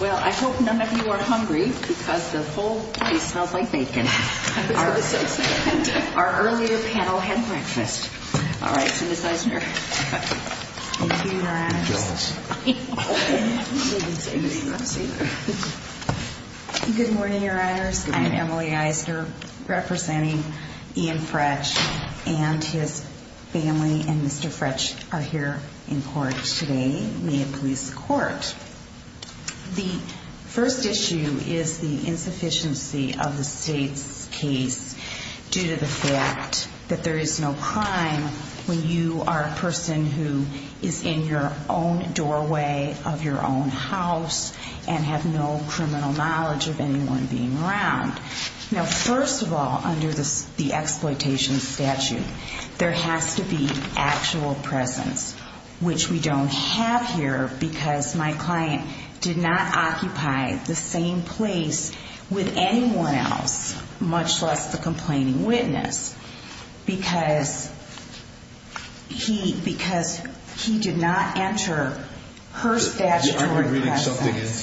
Well, I hope none of you are hungry because the whole piece smells like bacon. I'm going to have our earlier panel have breakfast. Emily Eisner Thank you, Your Honors. Good morning, Your Honors. I'm Emily Eisner representing Ian Fretch and his family. And Mr. Fretch are here in court today. May it please the Court. The first issue is the insufficiency of the state's case due to the fact that there is no crime when you are a person who is in your own doorway of your own house and have no criminal knowledge of anyone being around. Now, first of all, under the exploitation statute, there has to be actual presence, which we don't have here because my client did not occupy the same place with anyone else, much less the complaining witness, because he did not enter her statutory presence.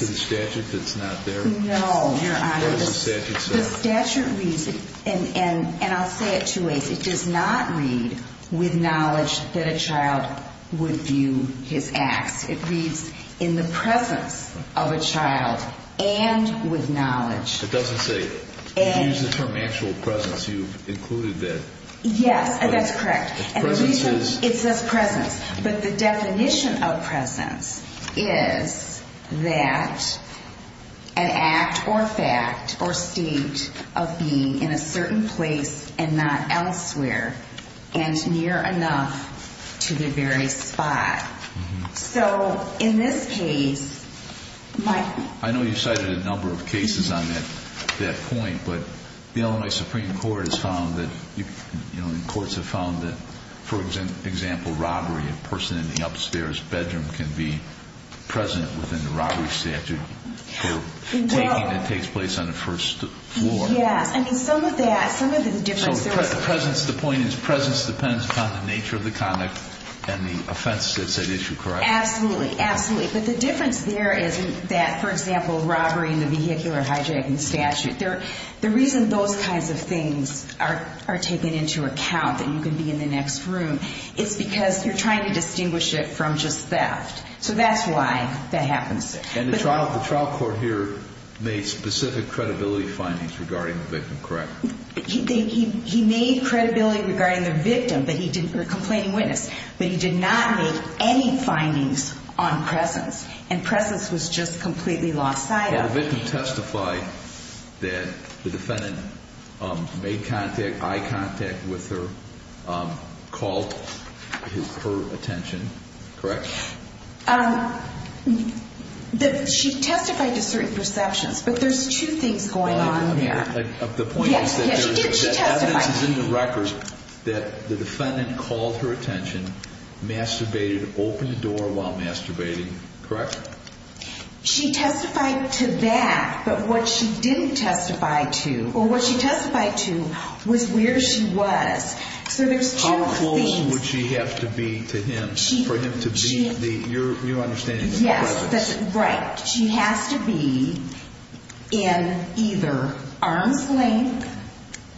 The statute reads, and I'll say it two ways, it does not read with knowledge that a child would view his acts. It reads in the presence of a child and with knowledge. It doesn't say, if you use the term actual presence, you've included that. Yes, that's correct. It says presence, but the definition of presence is that an act or fact or state of being in a certain place and not elsewhere and near enough to the very spot. I know you cited a number of cases on that point, but the Illinois Supreme Court has found that, for example, robbery, a person in the upstairs bedroom can be present within the robbery statute for taking that takes place on the first floor. The point is presence depends upon the nature of the conduct and the offense that's at issue, correct? Absolutely, absolutely. But the difference there is that, for example, robbery in the vehicular hijacking statute, the reason those kinds of things are taken into account and you can be in the next room is because you're trying to distinguish it from just theft. So that's why that happens. And the trial court here made specific credibility findings regarding the victim, correct? He made credibility regarding the victim, the complaining witness, but he did not make any findings on presence and presence was just completely lost sight of. The victim testified that the defendant made eye contact with her, called her attention, correct? She testified to certain perceptions, but there's two things going on there. The point is that the evidence is in the record that the defendant called her attention, masturbated, opened the door while masturbating, correct? She testified to that, but what she didn't testify to or what she testified to was where she was. So there's two things. How close would she have to be to him for him to be the, your understanding, the presence? Yes, that's right. She has to be in either arm's length,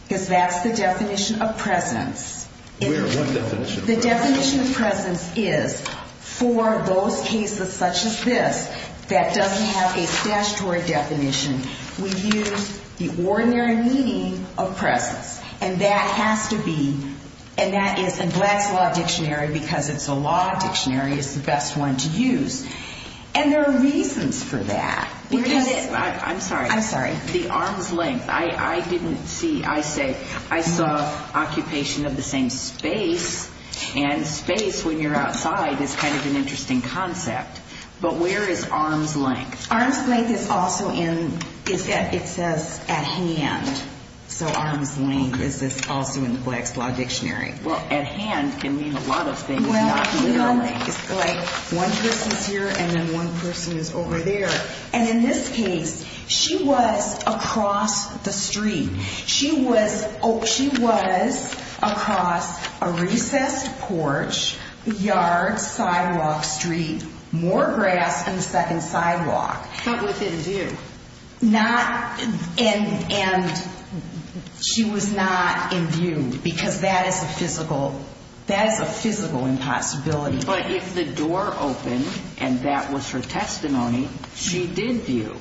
because that's the definition of presence. Where? What definition? The definition of presence is for those cases such as this that doesn't have a statutory definition, we use the ordinary meaning of presence. And that has to be, and that is, and Black's Law Dictionary, because it's a law dictionary, is the best one to use. And there are reasons for that. I'm sorry. Occupation of the same space, and space when you're outside is kind of an interesting concept. But where is arm's length? Arm's length is also in, it says at hand. So arm's length is also in the Black's Law Dictionary. Well, at hand can mean a lot of things, not literally. Well, you know, it's like one person's here and then one person is over there. And in this case, she was across the street. She was, oh, she was across a recessed porch, yard, sidewalk, street, more grass in the second sidewalk. But within view. Not, and, and she was not in view, because that is a physical, that is a physical impossibility. But if the door opened and that was her testimony, she did view.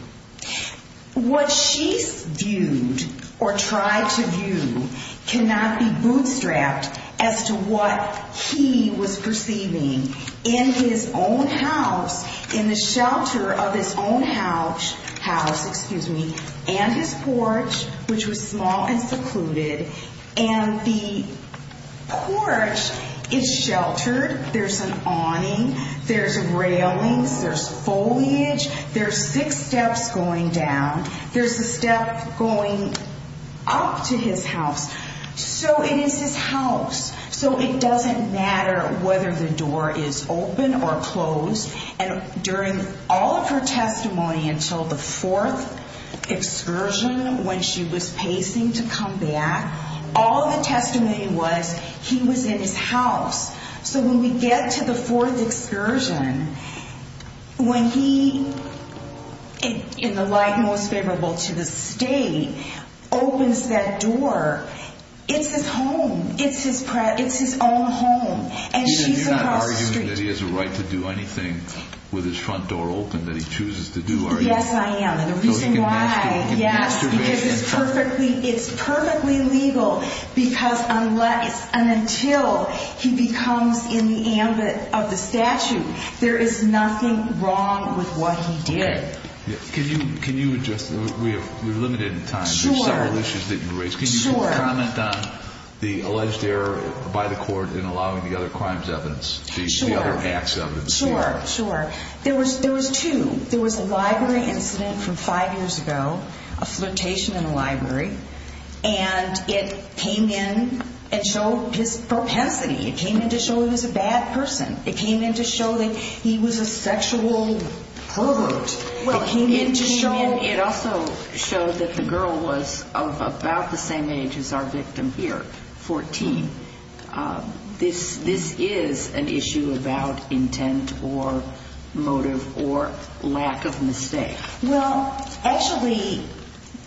What she viewed or tried to view cannot be bootstrapped as to what he was perceiving in his own house, in the shelter of his own house, house, excuse me, and his porch, which was small and secluded. And the porch is sheltered. There's an awning. There's railings. There's foliage. There's six steps going down. There's a step going up to his house. So it is his house. So it doesn't matter whether the door is open or closed. And during all of her testimony until the fourth excursion when she was pacing to come back, all the testimony was he was in his house. So when we get to the fourth excursion, when he, in the light most favorable to the state, opens that door, it's his home. It's his own home. And she's across the street. You're not arguing that he has a right to do anything with his front door open that he chooses to do, are you? Yes, I am. And the reason why, yes, because it's perfectly legal because unless and until he becomes in the ambit of the statute, there is nothing wrong with what he did. Can you just, we're limited in time. Sure. There's several issues that you raised. Sure. Can you comment on the alleged error by the court in allowing the other crimes evidence, the other acts evidence? Sure, sure. There was two. There was a library incident from five years ago, a flirtation in the library, and it came in and showed his propensity. It came in to show he was a bad person. It came in to show that he was a sexual pervert. It also showed that the girl was of about the same age as our victim here, 14. This is an issue about intent or motive or lack of mistake. Well, actually,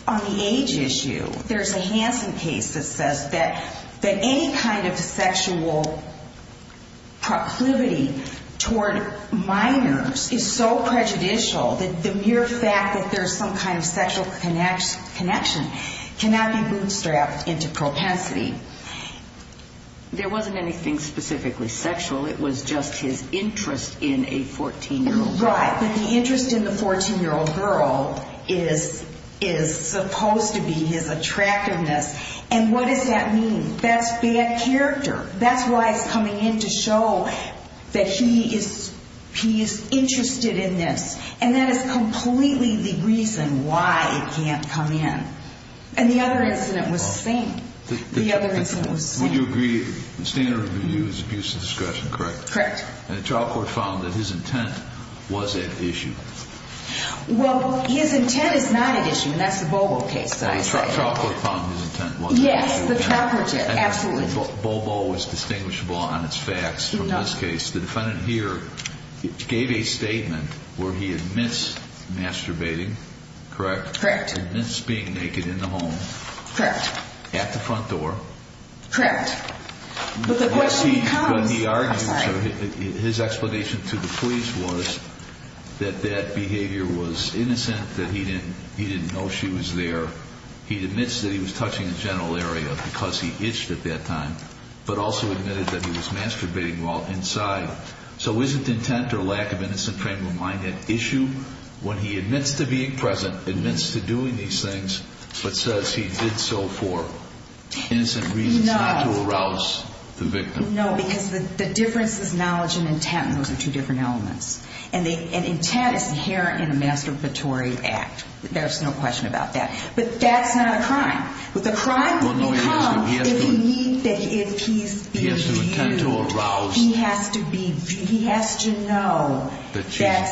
on the age issue, there's a Hansen case that says that any kind of sexual proclivity toward minors is so prejudicial that the mere fact that there's some kind of sexual connection cannot be bootstrapped into propensity. There wasn't anything specifically sexual. It was just his interest in a 14-year-old girl. Right, but the interest in the 14-year-old girl is supposed to be his attractiveness. And what does that mean? That's bad character. That's why it's coming in to show that he is interested in this. And that is completely the reason why it can't come in. And the other incident was the same. The other incident was the same. Would you agree the standard review is abuse of discretion, correct? Correct. And the trial court found that his intent was at issue. Well, his intent is not at issue, and that's the Bobo case that I cited. The trial court found his intent was at issue. Yes, the property, absolutely. Bobo was distinguishable on its facts from this case. The defendant here gave a statement where he admits masturbating, correct? Correct. Admits being naked in the home. Correct. At the front door. Correct. But the question becomes, I'm sorry. His explanation to the police was that that behavior was innocent, that he didn't know she was there. He admits that he was touching the general area because he itched at that time, but also admitted that he was masturbating while inside. So isn't intent or lack of innocent frame of mind at issue when he admits to being present, admits to doing these things, but says he did so for innocent reasons, not to arouse the victim? No, because the difference is knowledge and intent, and those are two different elements. And intent is inherent in a masturbatory act. There's no question about that. But that's not a crime. The crime becomes if he's viewed, he has to know that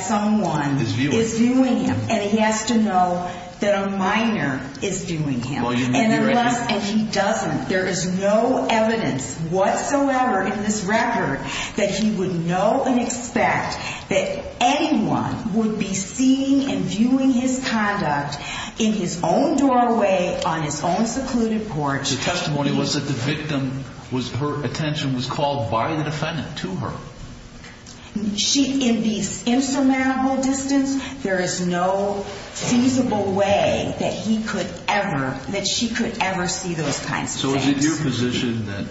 someone is viewing him, and he has to know that a minor is viewing him. And he doesn't. There is no evidence whatsoever in this record that he would know and expect that anyone would be seeing and viewing his conduct in his own doorway, on his own secluded porch. The testimony was that the victim, her attention was called by the defendant to her. In the insurmountable distance, there is no feasible way that he could ever, that she could ever see those kinds of things. So is it your position that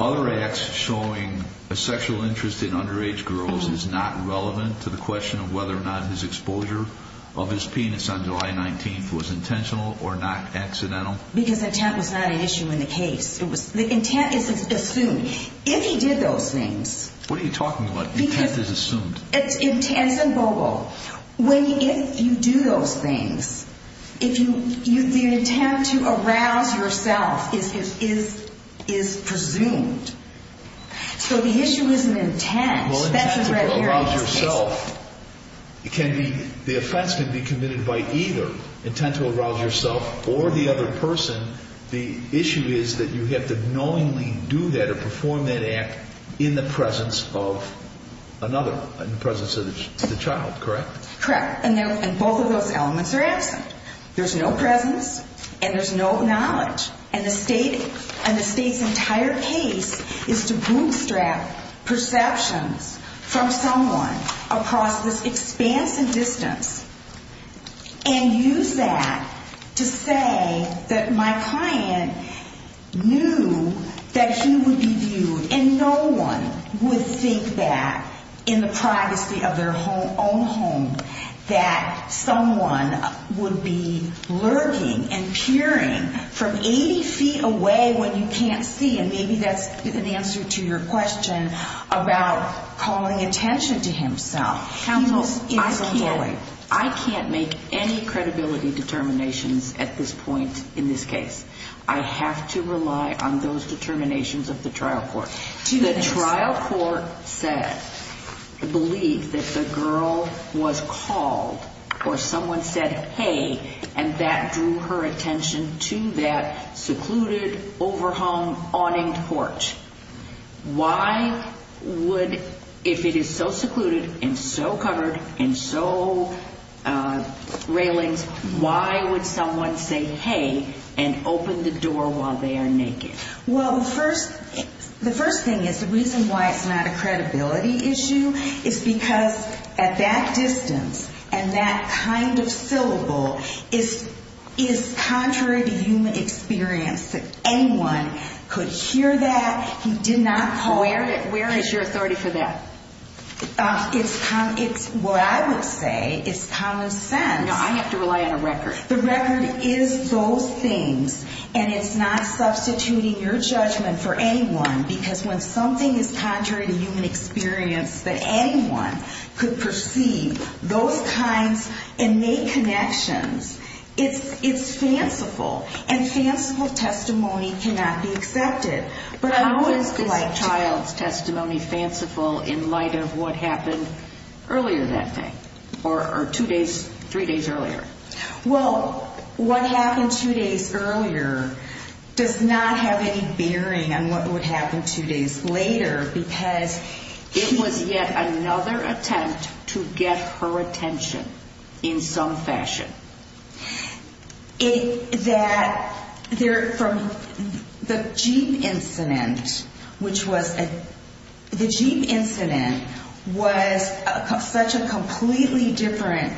other acts showing a sexual interest in underage girls is not relevant to the question of whether or not his exposure of his penis on July 19th was intentional or not accidental? Because intent was not an issue in the case. The intent is assumed. I mean, if he did those things. What are you talking about? Intent is assumed. It's intense and verbal. If you do those things, the intent to arouse yourself is presumed. So the issue isn't intent. Well, if you're going to arouse yourself, the offense can be committed by either intent to arouse yourself or the other person. The issue is that you have to knowingly do that or perform that act in the presence of another, in the presence of the child, correct? Correct. And both of those elements are absent. There's no presence and there's no knowledge. And the State's entire case is to bootstrap perceptions from someone across this expansive distance and use that to say that my client knew that he would be viewed and no one would think that in the privacy of their own home that someone would be lurking and peering from 80 feet away when you can't see. And maybe that's an answer to your question about calling attention to himself. Counsel, I can't make any credibility determinations at this point in this case. I have to rely on those determinations of the trial court. The trial court said, believed that the girl was called or someone said, hey, and that drew her attention to that secluded, overhung, awninged porch. Why would, if it is so secluded and so covered and so railings, why would someone say, hey, and open the door while they are naked? Well, the first thing is the reason why it's not a credibility issue is because at that distance and that kind of syllable is contrary to human experience. Anyone could hear that. He did not call. Where is your authority for that? It's what I would say is common sense. No, I have to rely on a record. The record is those things, and it's not substituting your judgment for anyone because when something is contrary to human experience, that anyone could perceive those kinds and make connections, it's fanciful, and fanciful testimony cannot be accepted. How is this child's testimony fanciful in light of what happened earlier that day or two days, three days earlier? Well, what happened two days earlier does not have any bearing on what would happen two days later because it was yet another attempt to get her attention in some fashion. The Jeep incident was such a completely different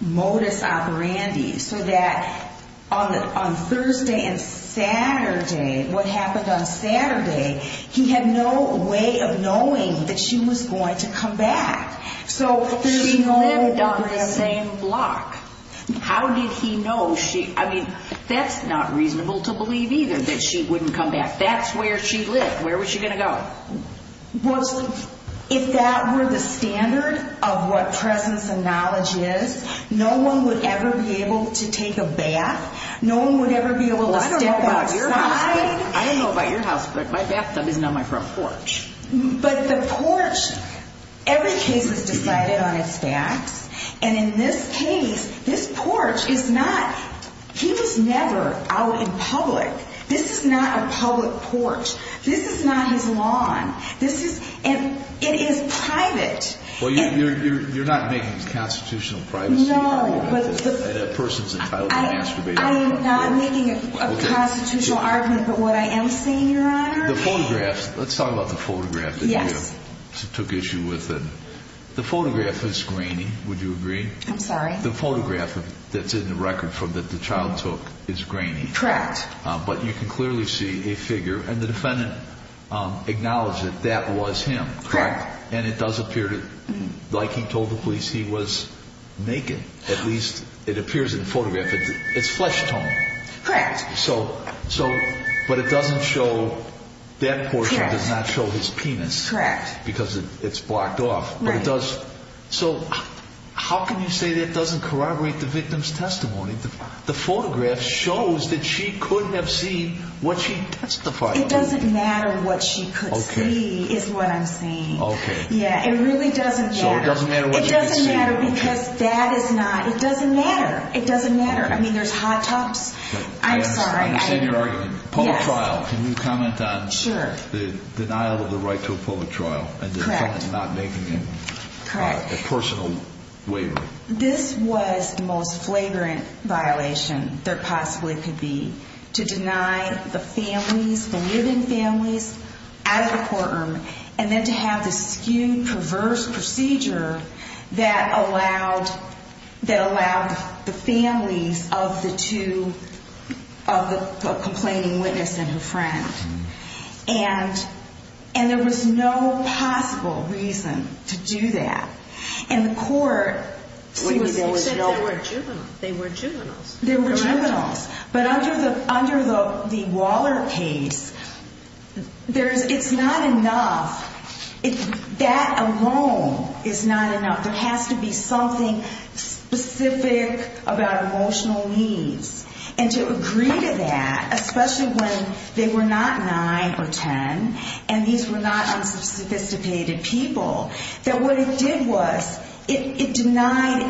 modus operandi so that on Thursday and Saturday, what happened on Saturday, he had no way of knowing that she was going to come back. She lived on the same block. How did he know? I mean, that's not reasonable to believe either that she wouldn't come back. That's where she lived. Where was she going to go? If that were the standard of what presence and knowledge is, no one would ever be able to take a bath. No one would ever be able to step outside. I don't know about your house, but my bathtub is not my front porch. But the porch, every case is decided on its facts, and in this case, this porch is not, he was never out in public. This is not a public porch. This is not his lawn. This is, and it is private. Well, you're not making a constitutional privacy argument that a person's entitled to masturbate. I am not making a constitutional argument, but what I am saying, Your Honor. The photographs, let's talk about the photograph that you took issue with. The photograph is grainy, would you agree? I'm sorry? The photograph that's in the record that the child took is grainy. Correct. But you can clearly see a figure, and the defendant acknowledged that that was him. Correct. And it does appear to, like he told the police, he was naked, at least it appears in the photograph. It's flesh tone. Correct. So, but it doesn't show, that portion does not show his penis. Correct. Because it's blocked off. Right. But it does, so how can you say that doesn't corroborate the victim's testimony? The photograph shows that she could have seen what she testified. It doesn't matter what she could see is what I'm saying. Okay. Yeah, it really doesn't matter. So it doesn't matter what she could see. It doesn't matter because that is not, it doesn't matter. It doesn't matter. I mean, there's hot tubs. I'm sorry. I understand your argument. Yes. Public trial, can you comment on the denial of the right to a public trial? Correct. And the defendant not making a personal waiver. This was the most flagrant violation there possibly could be. To deny the families, the living families, out of the courtroom. And then to have this skewed, perverse procedure that allowed the families of the two, of the complaining witness and her friend. And there was no possible reason to do that. And the court. They said they were juveniles. They were juveniles. They were juveniles. But under the Waller case, it's not enough. That alone is not enough. There has to be something specific about emotional needs. And to agree to that, especially when they were not 9 or 10, and these were not unsophisticated people. That what it did was it denied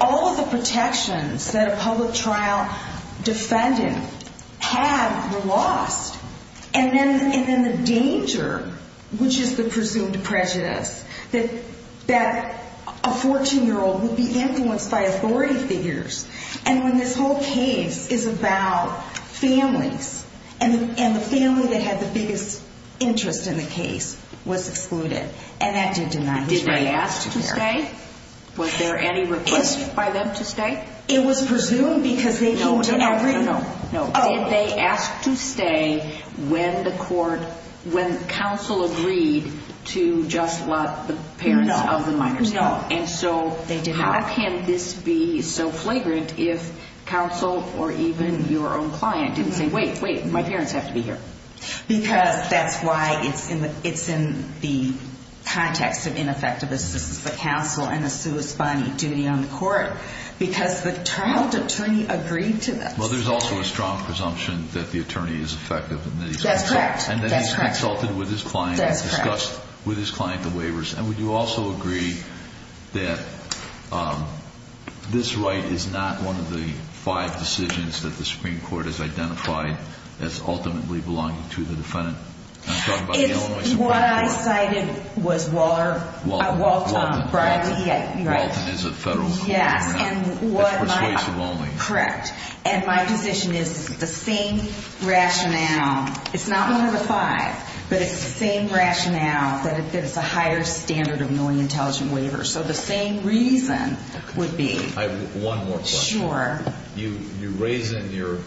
all of the protections that a public trial defendant had were lost. And then the danger, which is the presumed prejudice, that a 14-year-old would be influenced by authority figures. And when this whole case is about families, and the family that had the biggest interest in the case was excluded. And that did deny his right to care. Did they ask to stay? Was there any request by them to stay? It was presumed because they came to every. No, no, no. Did they ask to stay when the court, when counsel agreed to just let the parents of the minor stay? No, no. And so how can this be so flagrant if counsel or even your own client didn't say, wait, wait, my parents have to be here? Because that's why it's in the context of ineffectiveness. This is the counsel and the sui spani duty on the court. Because the child attorney agreed to this. Well, there's also a strong presumption that the attorney is effective. That's correct. And that he's consulted with his client. That's correct. Discussed with his client the waivers. And would you also agree that this right is not one of the five decisions that the Supreme Court has identified as ultimately belonging to the defendant? I'm talking about the Illinois Supreme Court. It's what I cited was Walton. Walton is a federal court. Yes. It's persuasive only. Correct. And my position is the same rationale. It's not one of the five, but it's the same rationale that it's a higher standard of knowing intelligent waivers. So the same reason would be. I have one more question. Sure. You raise in your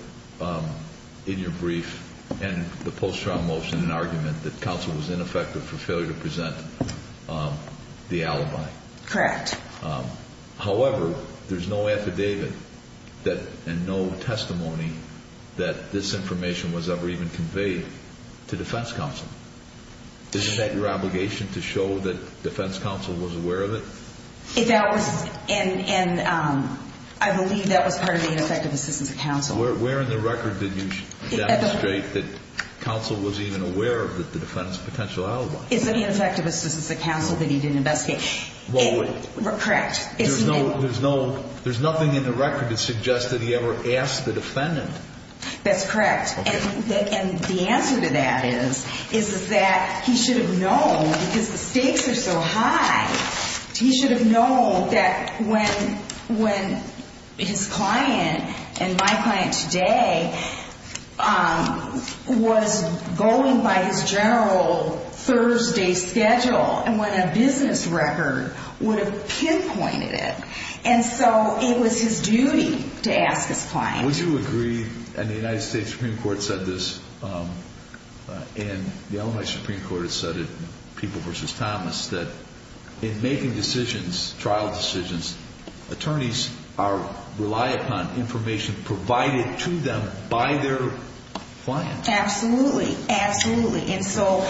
brief and the post-trial motion an argument that counsel was ineffective for failure to present the alibi. Correct. However, there's no affidavit and no testimony that this information was ever even conveyed to defense counsel. Isn't that your obligation to show that defense counsel was aware of it? That was, and I believe that was part of the ineffective assistance of counsel. Where in the record did you demonstrate that counsel was even aware of the defense potential alibi? It's the ineffective assistance of counsel that he didn't investigate. Well, wait. Correct. There's nothing in the record that suggests that he ever asked the defendant. That's correct. And the answer to that is that he should have known because the stakes are so high. He should have known that when his client and my client today was going by his general Thursday schedule and when a business record would have pinpointed it. And so it was his duty to ask his client. Would you agree, and the United States Supreme Court said this, and the Illinois Supreme Court has said it, People v. Thomas, that in making decisions, trial decisions, attorneys rely upon information provided to them by their clients. Absolutely, absolutely. And so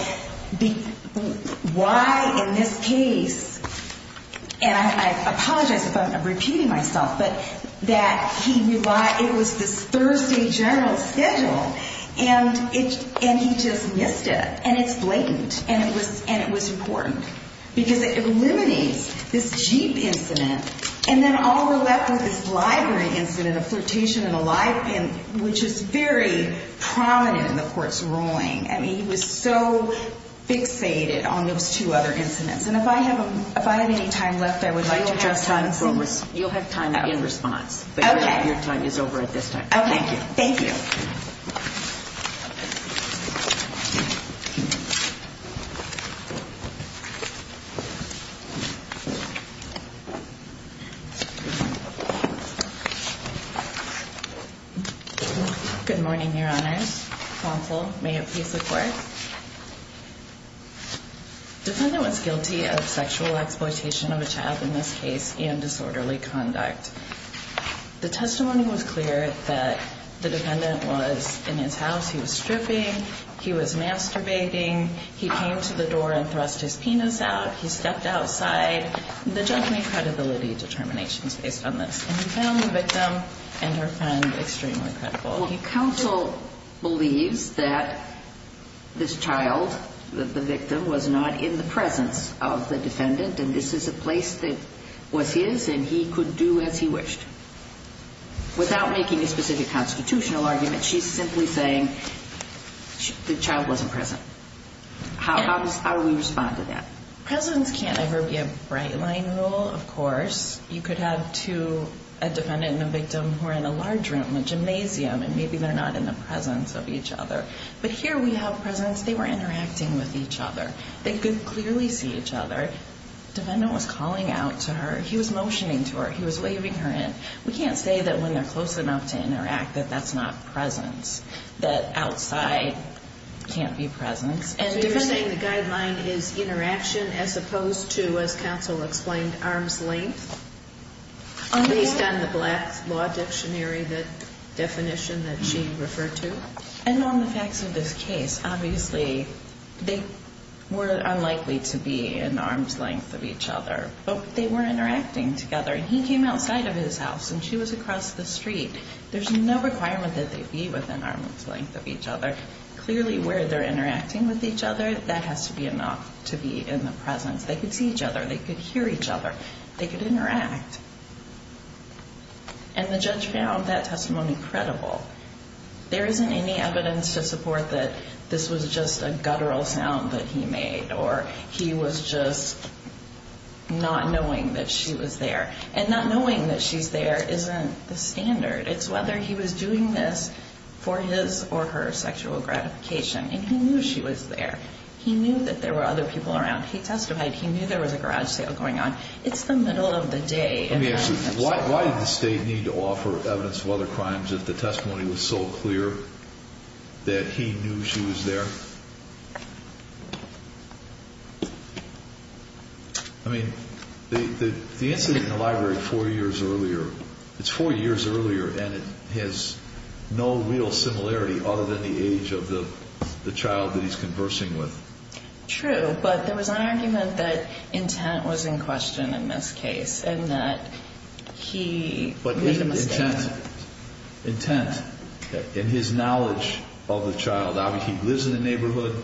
why in this case, and I apologize if I'm repeating myself, but that he relied, it was this Thursday general schedule, and he just missed it, and it's blatant, and it was important. Because it eliminates this Jeep incident, and then all we're left with is this library incident, a flirtation in a library, which is very prominent in the court's ruling. I mean, he was so fixated on those two other incidents. And if I have any time left, I would like to address Thomas. You'll have time in response, but your time is over at this time. Okay, thank you. Good morning, Your Honors. Counsel, may it please the Court. Defendant was guilty of sexual exploitation of a child in this case and disorderly conduct. He was stripping. He was masturbating. He came to the door and thrust his penis out. He stepped outside. The judgment credibility determination is based on this. And he found the victim and her friend extremely credible. Counsel believes that this child, the victim, was not in the presence of the defendant, and this is a place that was his and he could do as he wished. Without making a specific constitutional argument, she's simply saying the child wasn't present. How do we respond to that? Presence can't ever be a bright-line rule, of course. You could have two, a defendant and a victim, who are in a large room, a gymnasium, and maybe they're not in the presence of each other. But here we have presence. They were interacting with each other. They could clearly see each other. Defendant was calling out to her. He was motioning to her. He was waving her in. We can't say that when they're close enough to interact that that's not presence, that outside can't be presence. So you're saying the guideline is interaction as opposed to, as counsel explained, arm's length, based on the Black Law Dictionary, the definition that she referred to? And on the facts of this case, obviously they were unlikely to be in arm's length of each other, but they were interacting together. He came outside of his house, and she was across the street. There's no requirement that they be within arm's length of each other. Clearly, where they're interacting with each other, that has to be enough to be in the presence. They could see each other. They could hear each other. They could interact. And the judge found that testimony credible. There isn't any evidence to support that this was just a guttural sound that he made or he was just not knowing that she was there. And not knowing that she's there isn't the standard. It's whether he was doing this for his or her sexual gratification. And he knew she was there. He knew that there were other people around. He testified. He knew there was a garage sale going on. It's the middle of the day. Why did the state need to offer evidence of other crimes if the testimony was so clear that he knew she was there? I mean, the incident in the library four years earlier, it's four years earlier, and it has no real similarity other than the age of the child that he's conversing with. True, but there was an argument that intent was in question in this case and that he made a mistake. But intent in his knowledge of the child. I mean, he lives in the neighborhood.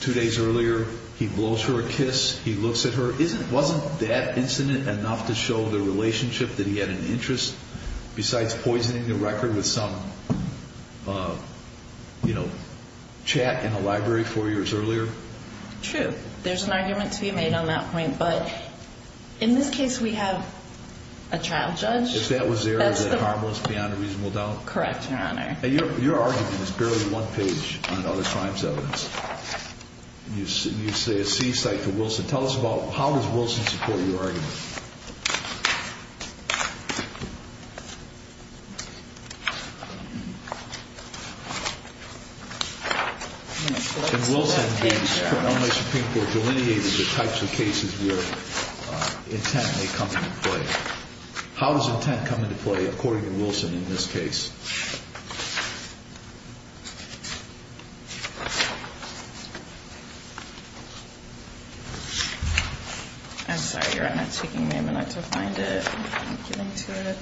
Two days earlier, he blows her a kiss. He looks at her. Wasn't that incident enough to show the relationship that he had an interest, besides poisoning the record with some chat in the library four years earlier? True. There's an argument to be made on that point. But in this case, we have a child judge. If that was there, is it harmless beyond a reasonable doubt? Correct, Your Honor. Your argument is barely one page on other crimes evidence. You say a seaside to Wilson. Tell us about how does Wilson support your argument? In Wilson, unless you think we're delineating the types of cases where intent may come into play, how does intent come into play according to Wilson in this case? I'm sorry, Your Honor, it's taking me a minute to find it. I'm not getting to it.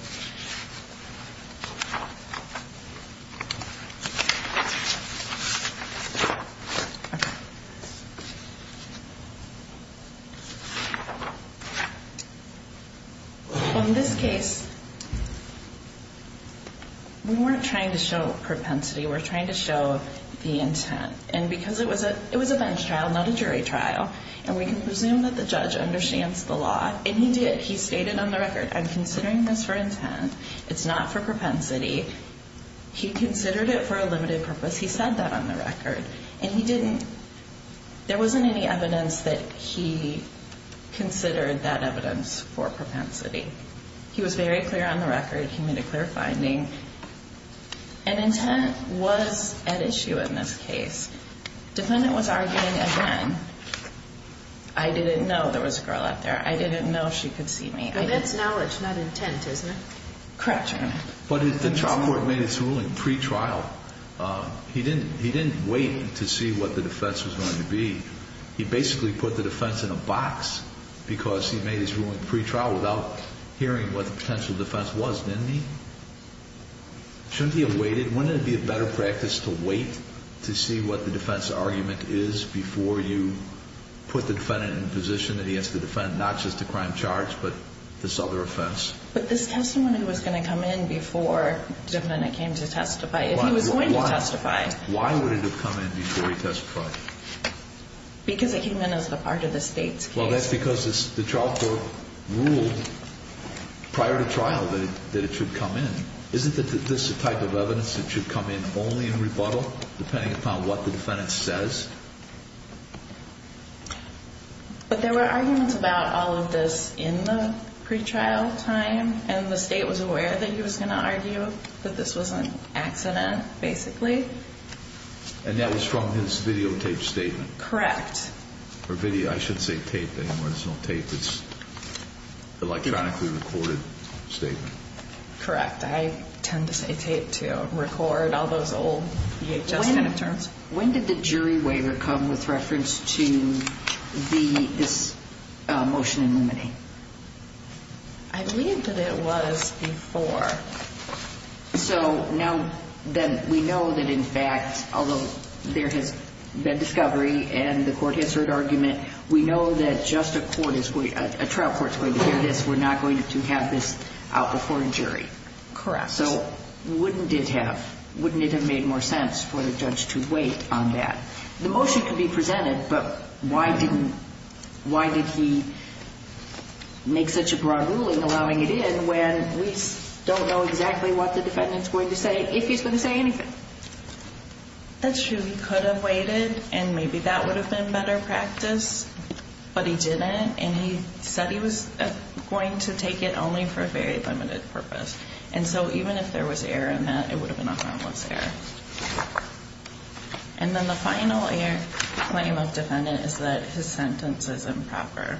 In this case, we weren't trying to show propensity. We were trying to show the intent. And because it was a bench trial, not a jury trial, and we can presume that the judge understands the law, and he did. He stated on the record, I'm considering this for intent. It's not for propensity. He considered it for a limited purpose. He said that on the record. And he didn't – there wasn't any evidence that he considered that evidence for propensity. He was very clear on the record. He made a clear finding. And intent was at issue in this case. Defendant was arguing again. I didn't know there was a girl out there. I didn't know she could see me. And that's knowledge, not intent, isn't it? Correct, Your Honor. But the trial court made its ruling pre-trial. He didn't wait to see what the defense was going to be. He basically put the defense in a box because he made his ruling pre-trial without hearing what the potential defense was, didn't he? Shouldn't he have waited? Wouldn't it be a better practice to wait to see what the defense argument is before you put the defendant in a position that he has to defend not just a crime charge but this other offense? But this testimony was going to come in before the defendant came to testify, if he was going to testify. Why would it have come in before he testified? Because it came in as a part of the state's case. Well, that's because the trial court ruled prior to trial that it should come in. Isn't this the type of evidence that should come in only in rebuttal, depending upon what the defendant says? But there were arguments about all of this in the pre-trial time, and the state was aware that he was going to argue that this was an accident, basically. And that was from his videotape statement. Correct. Or video. I shouldn't say tape anymore. There's no tape. It's an electronically recorded statement. Correct. In fact, I tend to say tape to record all those old EHS kind of terms. When did the jury waiver come with reference to this motion in limine? I believe that it was before. So now then we know that, in fact, although there has been discovery and the court has heard argument, we know that just a trial court is going to hear this. We're not going to have this out before a jury. Correct. So wouldn't it have made more sense for the judge to wait on that? The motion could be presented, but why did he make such a broad ruling allowing it in when we don't know exactly what the defendant's going to say, if he's going to say anything? That's true. He could have waited, and maybe that would have been better practice, but he didn't. And he said he was going to take it only for a very limited purpose. And so even if there was error in that, it would have been a harmless error. And then the final claim of defendant is that his sentence is improper.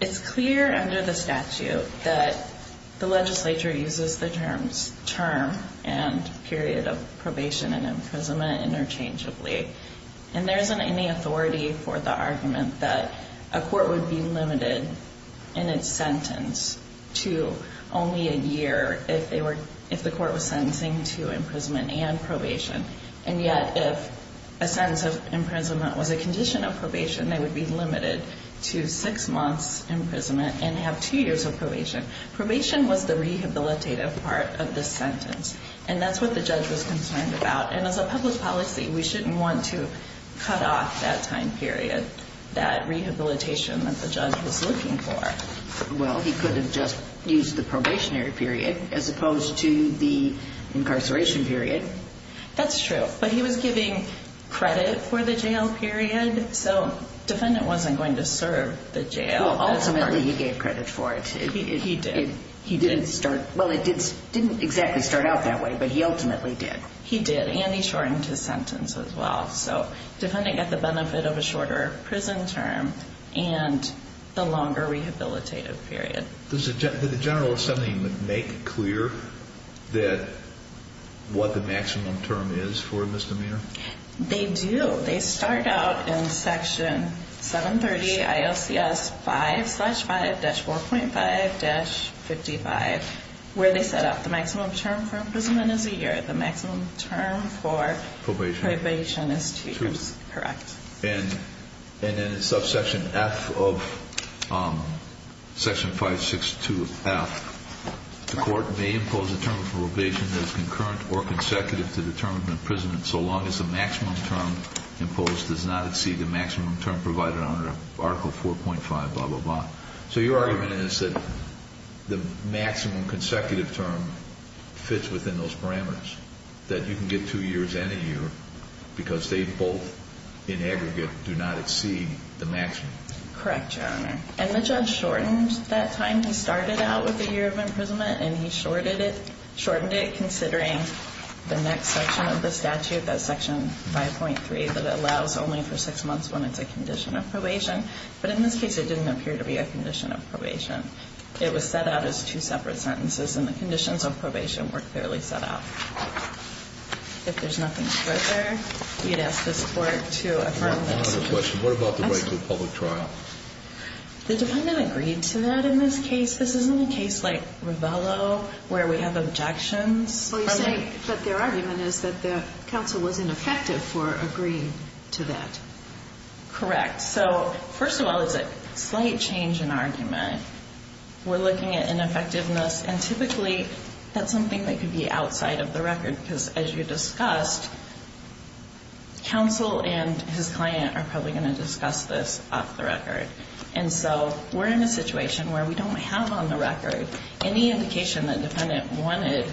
It's clear under the statute that the legislature uses the terms term and period of probation and imprisonment interchangeably. And there isn't any authority for the argument that a court would be limited in its sentence to only a year if the court was sentencing to imprisonment and probation. And yet if a sentence of imprisonment was a condition of probation, they would be limited to six months' imprisonment and have two years of probation. Probation was the rehabilitative part of this sentence, and that's what the judge was concerned about. And as a public policy, we shouldn't want to cut off that time period, that rehabilitation that the judge was looking for. Well, he could have just used the probationary period as opposed to the incarceration period. That's true, but he was giving credit for the jail period, so defendant wasn't going to serve the jail. Well, ultimately he gave credit for it. He did. Well, it didn't exactly start out that way, but he ultimately did. He did, and he shortened his sentence as well. So defendant got the benefit of a shorter prison term and the longer rehabilitative period. Did the general assembly make clear what the maximum term is for misdemeanor? They do. They start out in Section 730 ILCS 5-5-4.5-55, where they set out the maximum term for imprisonment is a year. The maximum term for probation is two years. Correct. And in subsection F of Section 562F, the court may impose a term for probation that is concurrent or consecutive to the term of imprisonment so long as the maximum term imposed does not exceed the maximum term provided under Article 4.5 blah, blah, blah. So your argument is that the maximum consecutive term fits within those parameters, that you can get two years and a year because they both, in aggregate, do not exceed the maximum. Correct, Your Honor. And the judge shortened that time. He started out with a year of imprisonment, and he shortened it, considering the next section of the statute, that's Section 5.3, that allows only for six months when it's a condition of probation. But in this case, it didn't appear to be a condition of probation. It was set out as two separate sentences, and the conditions of probation were clearly set out. If there's nothing further, we'd ask this Court to affirm this. I have another question. What about the right to a public trial? The defendant agreed to that in this case. This isn't a case like Ravello where we have objections. Well, you're saying that their argument is that the counsel was ineffective for agreeing to that. Correct. So, first of all, it's a slight change in argument. We're looking at ineffectiveness, and typically that's something that could be outside of the record because, as you discussed, counsel and his client are probably going to discuss this off the record. And so we're in a situation where we don't have on the record any indication that the defendant wanted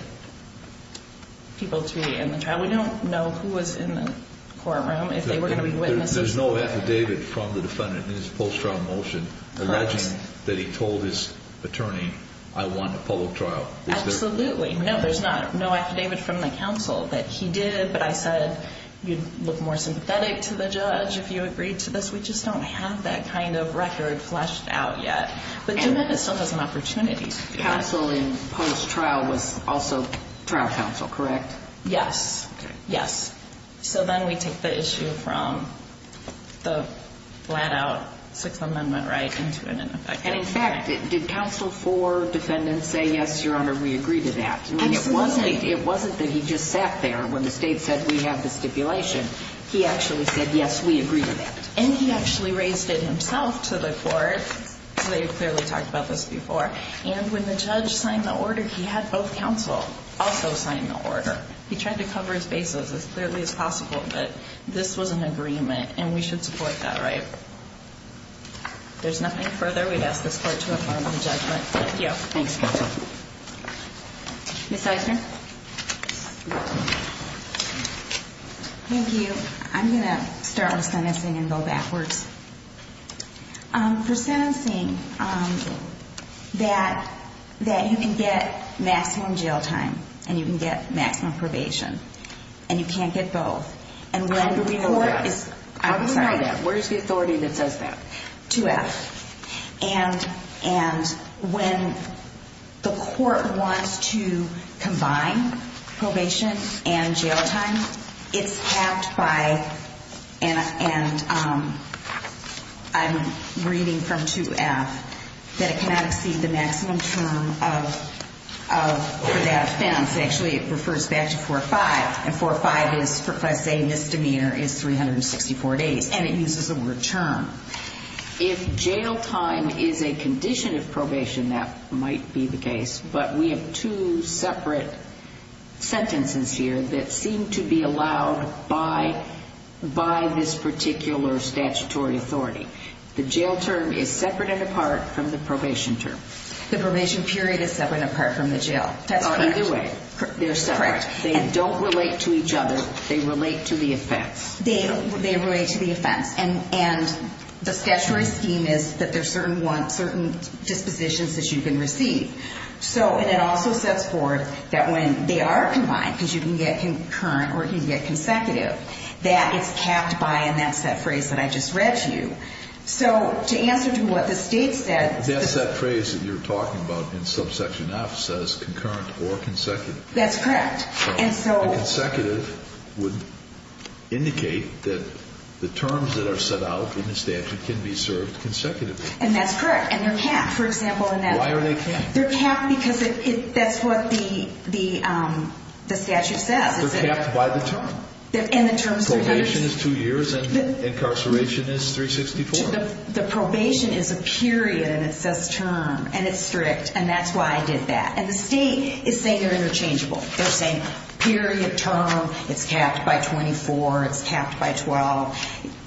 people to be in the trial. We don't know who was in the courtroom, if they were going to be witnesses. There's no affidavit from the defendant in his post-trial motion alleging that he told his attorney, I want a public trial. Absolutely. No, there's no affidavit from the counsel that he did, but I said you'd look more sympathetic to the judge if you agreed to this. We just don't have that kind of record fleshed out yet. But the defendant still has an opportunity. Counsel in post-trial was also trial counsel, correct? Yes. Okay. Yes. So then we take the issue from the flat-out Sixth Amendment right into an ineffectiveness. And, in fact, did counsel for defendant say, yes, Your Honor, we agree to that? Absolutely. It wasn't that he just sat there when the state said we have the stipulation. He actually said, yes, we agree to that. And he actually raised it himself to the court. They clearly talked about this before. And when the judge signed the order, he had both counsel also sign the order. He tried to cover his bases as clearly as possible that this was an agreement and we should support that, right? If there's nothing further, we'd ask this court to affirm the judgment. Thank you. Thanks, counsel. Ms. Eisner? Thank you. I'm going to start with sentencing and go backwards. For sentencing, that you can get maximum jail time and you can get maximum probation, and you can't get both. And when the court is – How do we know that? I'm sorry. How do we try that? Where's the authority that says that? 2F. And when the court wants to combine probation and jail time, it's tapped by – and I'm reading from 2F – that it cannot exceed the maximum term for that offense. Actually, it refers back to 45. Correct. And 45 is, for class A misdemeanor, is 364 days. And it uses the word term. If jail time is a condition of probation, that might be the case. But we have two separate sentences here that seem to be allowed by this particular statutory authority. The jail term is separate and apart from the probation term. The probation period is separate and apart from the jail. That's correct. Either way, they're separate. Correct. They don't relate to each other. They relate to the offense. They relate to the offense. And the statutory scheme is that there's certain dispositions that you can receive. And it also sets forth that when they are combined, because you can get concurrent or you can get consecutive, that it's tapped by, and that's that phrase that I just read to you. So to answer to what the State said – That phrase that you're talking about in subsection F says concurrent or consecutive. That's correct. And consecutive would indicate that the terms that are set out in the statute can be served consecutively. And that's correct. And they're capped, for example. Why are they capped? They're capped because that's what the statute says. They're capped by the term. And the terms – Probation is two years and incarceration is 364. The probation is a period, and it says term. And it's strict. And that's why I did that. And the State is saying they're interchangeable. They're saying period, term. It's capped by 24. It's capped by 12.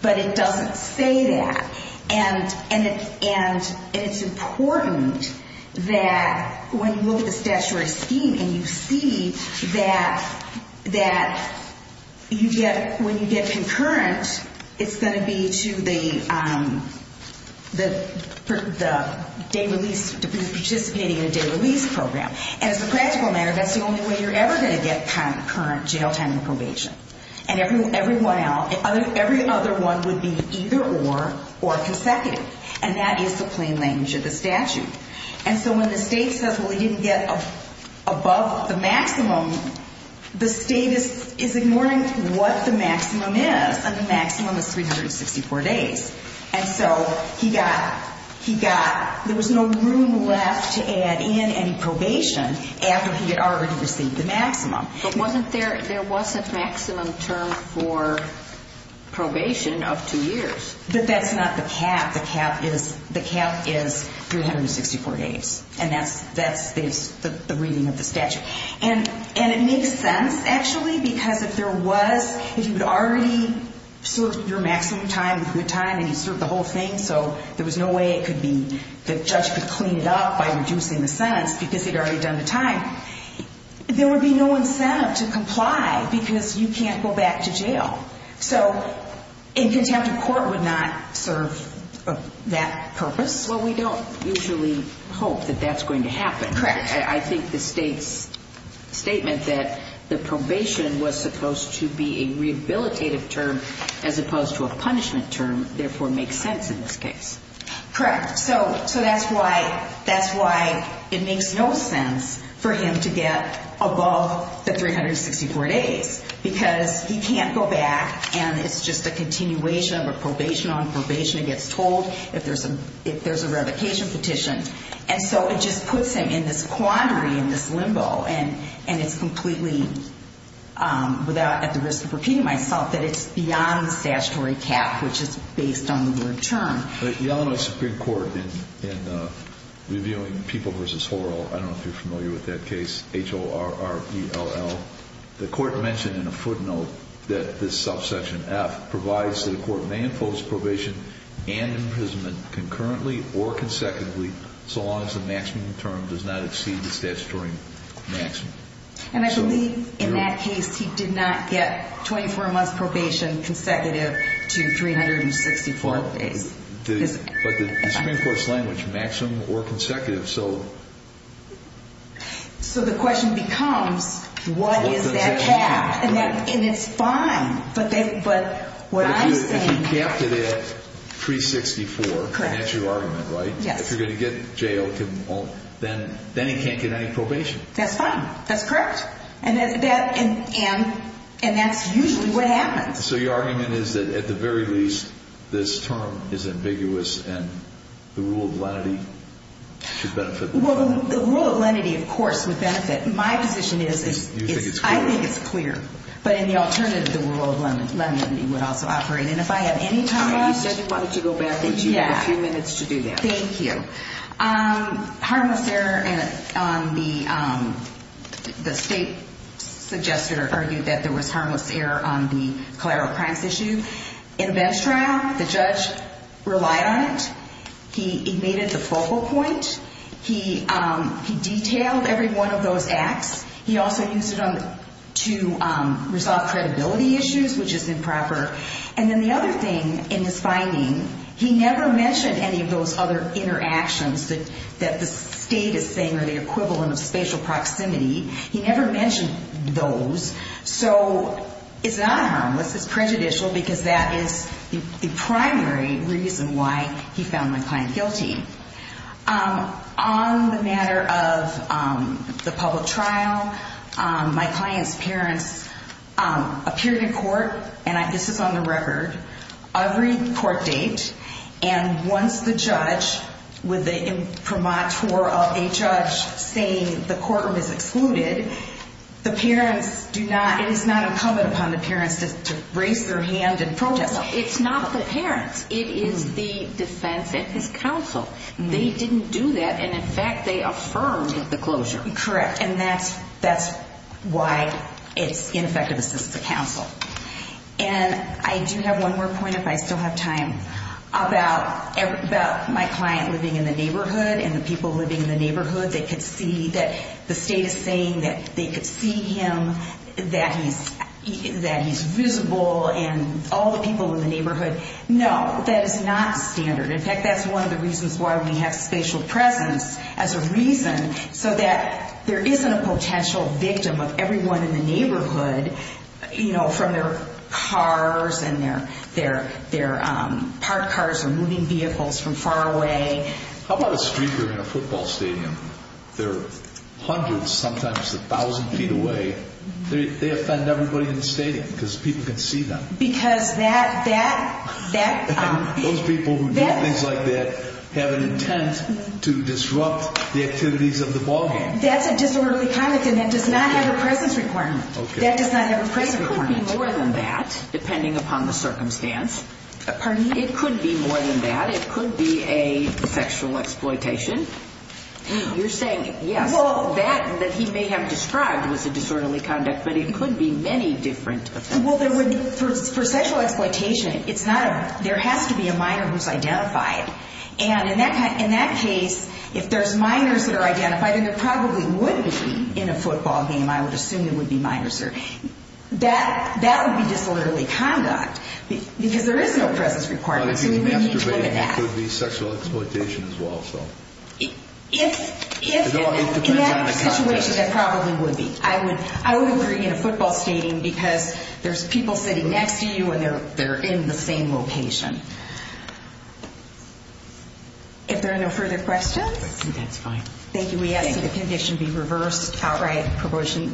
But it doesn't say that. And it's important that when you look at the statutory scheme and you see that when you get concurrent, it's going to be to the day release, participating in a day release program. And as a practical matter, that's the only way you're ever going to get concurrent jail time and probation. And every other one would be either or, or consecutive. And that is the plain language of the statute. And so when the State says, well, you didn't get above the maximum, the State is ignoring what the maximum is. And the maximum is 364 days. And so he got – he got – there was no room left to add in any probation after he had already received the maximum. But wasn't there – there was a maximum term for probation of two years. But that's not the cap. The cap is – the cap is 364 days. And that's – that's the reading of the statute. And it makes sense, actually, because if there was – if you had already served your maximum time, good time, and you served the whole thing, so there was no way it could be – the judge could clean it up by reducing the sentence because he'd already done the time, there would be no incentive to comply because you can't go back to jail. So a contempt of court would not serve that purpose? Well, we don't usually hope that that's going to happen. Correct. I think the State's statement that the probation was supposed to be a rehabilitative term as opposed to a punishment term therefore makes sense in this case. Correct. So – so that's why – that's why it makes no sense for him to get above the 364 days because he can't go back and it's just a continuation of a probation on probation. It gets told if there's a – if there's a revocation petition. And so it just puts him in this quandary, in this limbo, and it's completely – without – at the risk of repeating myself, that it's beyond the statutory cap, which is based on the word term. The Illinois Supreme Court, in reviewing People v. Horrell, I don't know if you're familiar with that case, H-O-R-R-E-L-L, the court mentioned in a footnote that this subsection F provides that a court may impose probation and imprisonment concurrently or consecutively so long as the maximum term does not exceed the statutory maximum. And I believe in that case he did not get 24 months probation consecutive to 364 days. But the Supreme Court's language, maximum or consecutive, so – So the question becomes, what is that cap? And it's fine, but what I'm saying – If he capped it at 364, and that's your argument, right? Yes. If you're going to get jailed, then he can't get any probation. That's fine. That's correct. And that's usually what happens. So your argument is that, at the very least, this term is ambiguous, and the rule of lenity should benefit the court. Well, the rule of lenity, of course, would benefit. My position is – You think it's clear. I think it's clear. But in the alternative, the rule of lenity would also operate. And if I have any time left – You said you wanted to go backwards. You have a few minutes to do that. Thank you. Harmless error on the – the state suggested or argued that there was harmless error on the collateral crimes issue. In a bench trial, the judge relied on it. He made it the focal point. He detailed every one of those acts. He also used it to resolve credibility issues, which is improper. And then the other thing in his finding, he never mentioned any of those other interactions that the state is saying are the equivalent of spatial proximity. He never mentioned those. So it's not harmless. It's prejudicial because that is the primary reason why he found my client guilty. On the matter of the public trial, my client's parents appeared in court – and this is on the record – every court date. And once the judge, with the imprimatur of a judge saying the courtroom is excluded, the parents do not – it is not incumbent upon the parents to raise their hand and protest. It's not the parents. It is the defense and his counsel. They didn't do that. And in fact, they affirmed the closure. Correct. And that's why it's ineffective assistance to counsel. And I do have one more point, if I still have time, about my client living in the neighborhood and the people living in the neighborhood. They could see that the state is saying that they could see him, that he's visible, and all the people in the neighborhood. No, that is not standard. In fact, that's one of the reasons why we have spatial presence as a reason, so that there isn't a potential victim of everyone in the neighborhood from their cars and their parked cars or moving vehicles from far away. How about a streaker in a football stadium? They're hundreds, sometimes a thousand feet away. They offend everybody in the stadium because people can see them. Because that – that – that – Those people who do things like that have an intent to disrupt the activities of the ballgame. That's a disorderly conduct, and that does not have a presence requirement. Okay. That does not have a presence requirement. It could be more than that, depending upon the circumstance. Pardon me? It could be more than that. It could be a sexual exploitation. You're saying, yes. Well, that that he may have described was a disorderly conduct, but it could be many different things. Well, there would – for sexual exploitation, it's not a – there has to be a minor who's identified. And in that case, if there's minors that are identified, then there probably would be in a football game, I would assume there would be minors there. That – that would be disorderly conduct because there is no presence requirement. So we need to look at that. It could be masturbating. It could be sexual exploitation as well, so. If – if – It depends on the context. In that situation, that probably would be. I would – I would agree in a football stadium because there's people sitting next to you and they're in the same location. If there are no further questions. That's fine. Thank you. We ask that the conviction be reversed, outright prorogation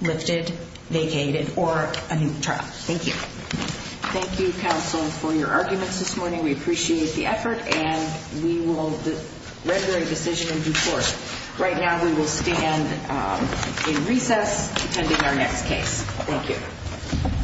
lifted, vacated, or a new trial. Thank you. Thank you, counsel, for your arguments this morning. We appreciate the effort and we will – regular decision in due course. Right now, we will stand in recess, attending our next case. Thank you.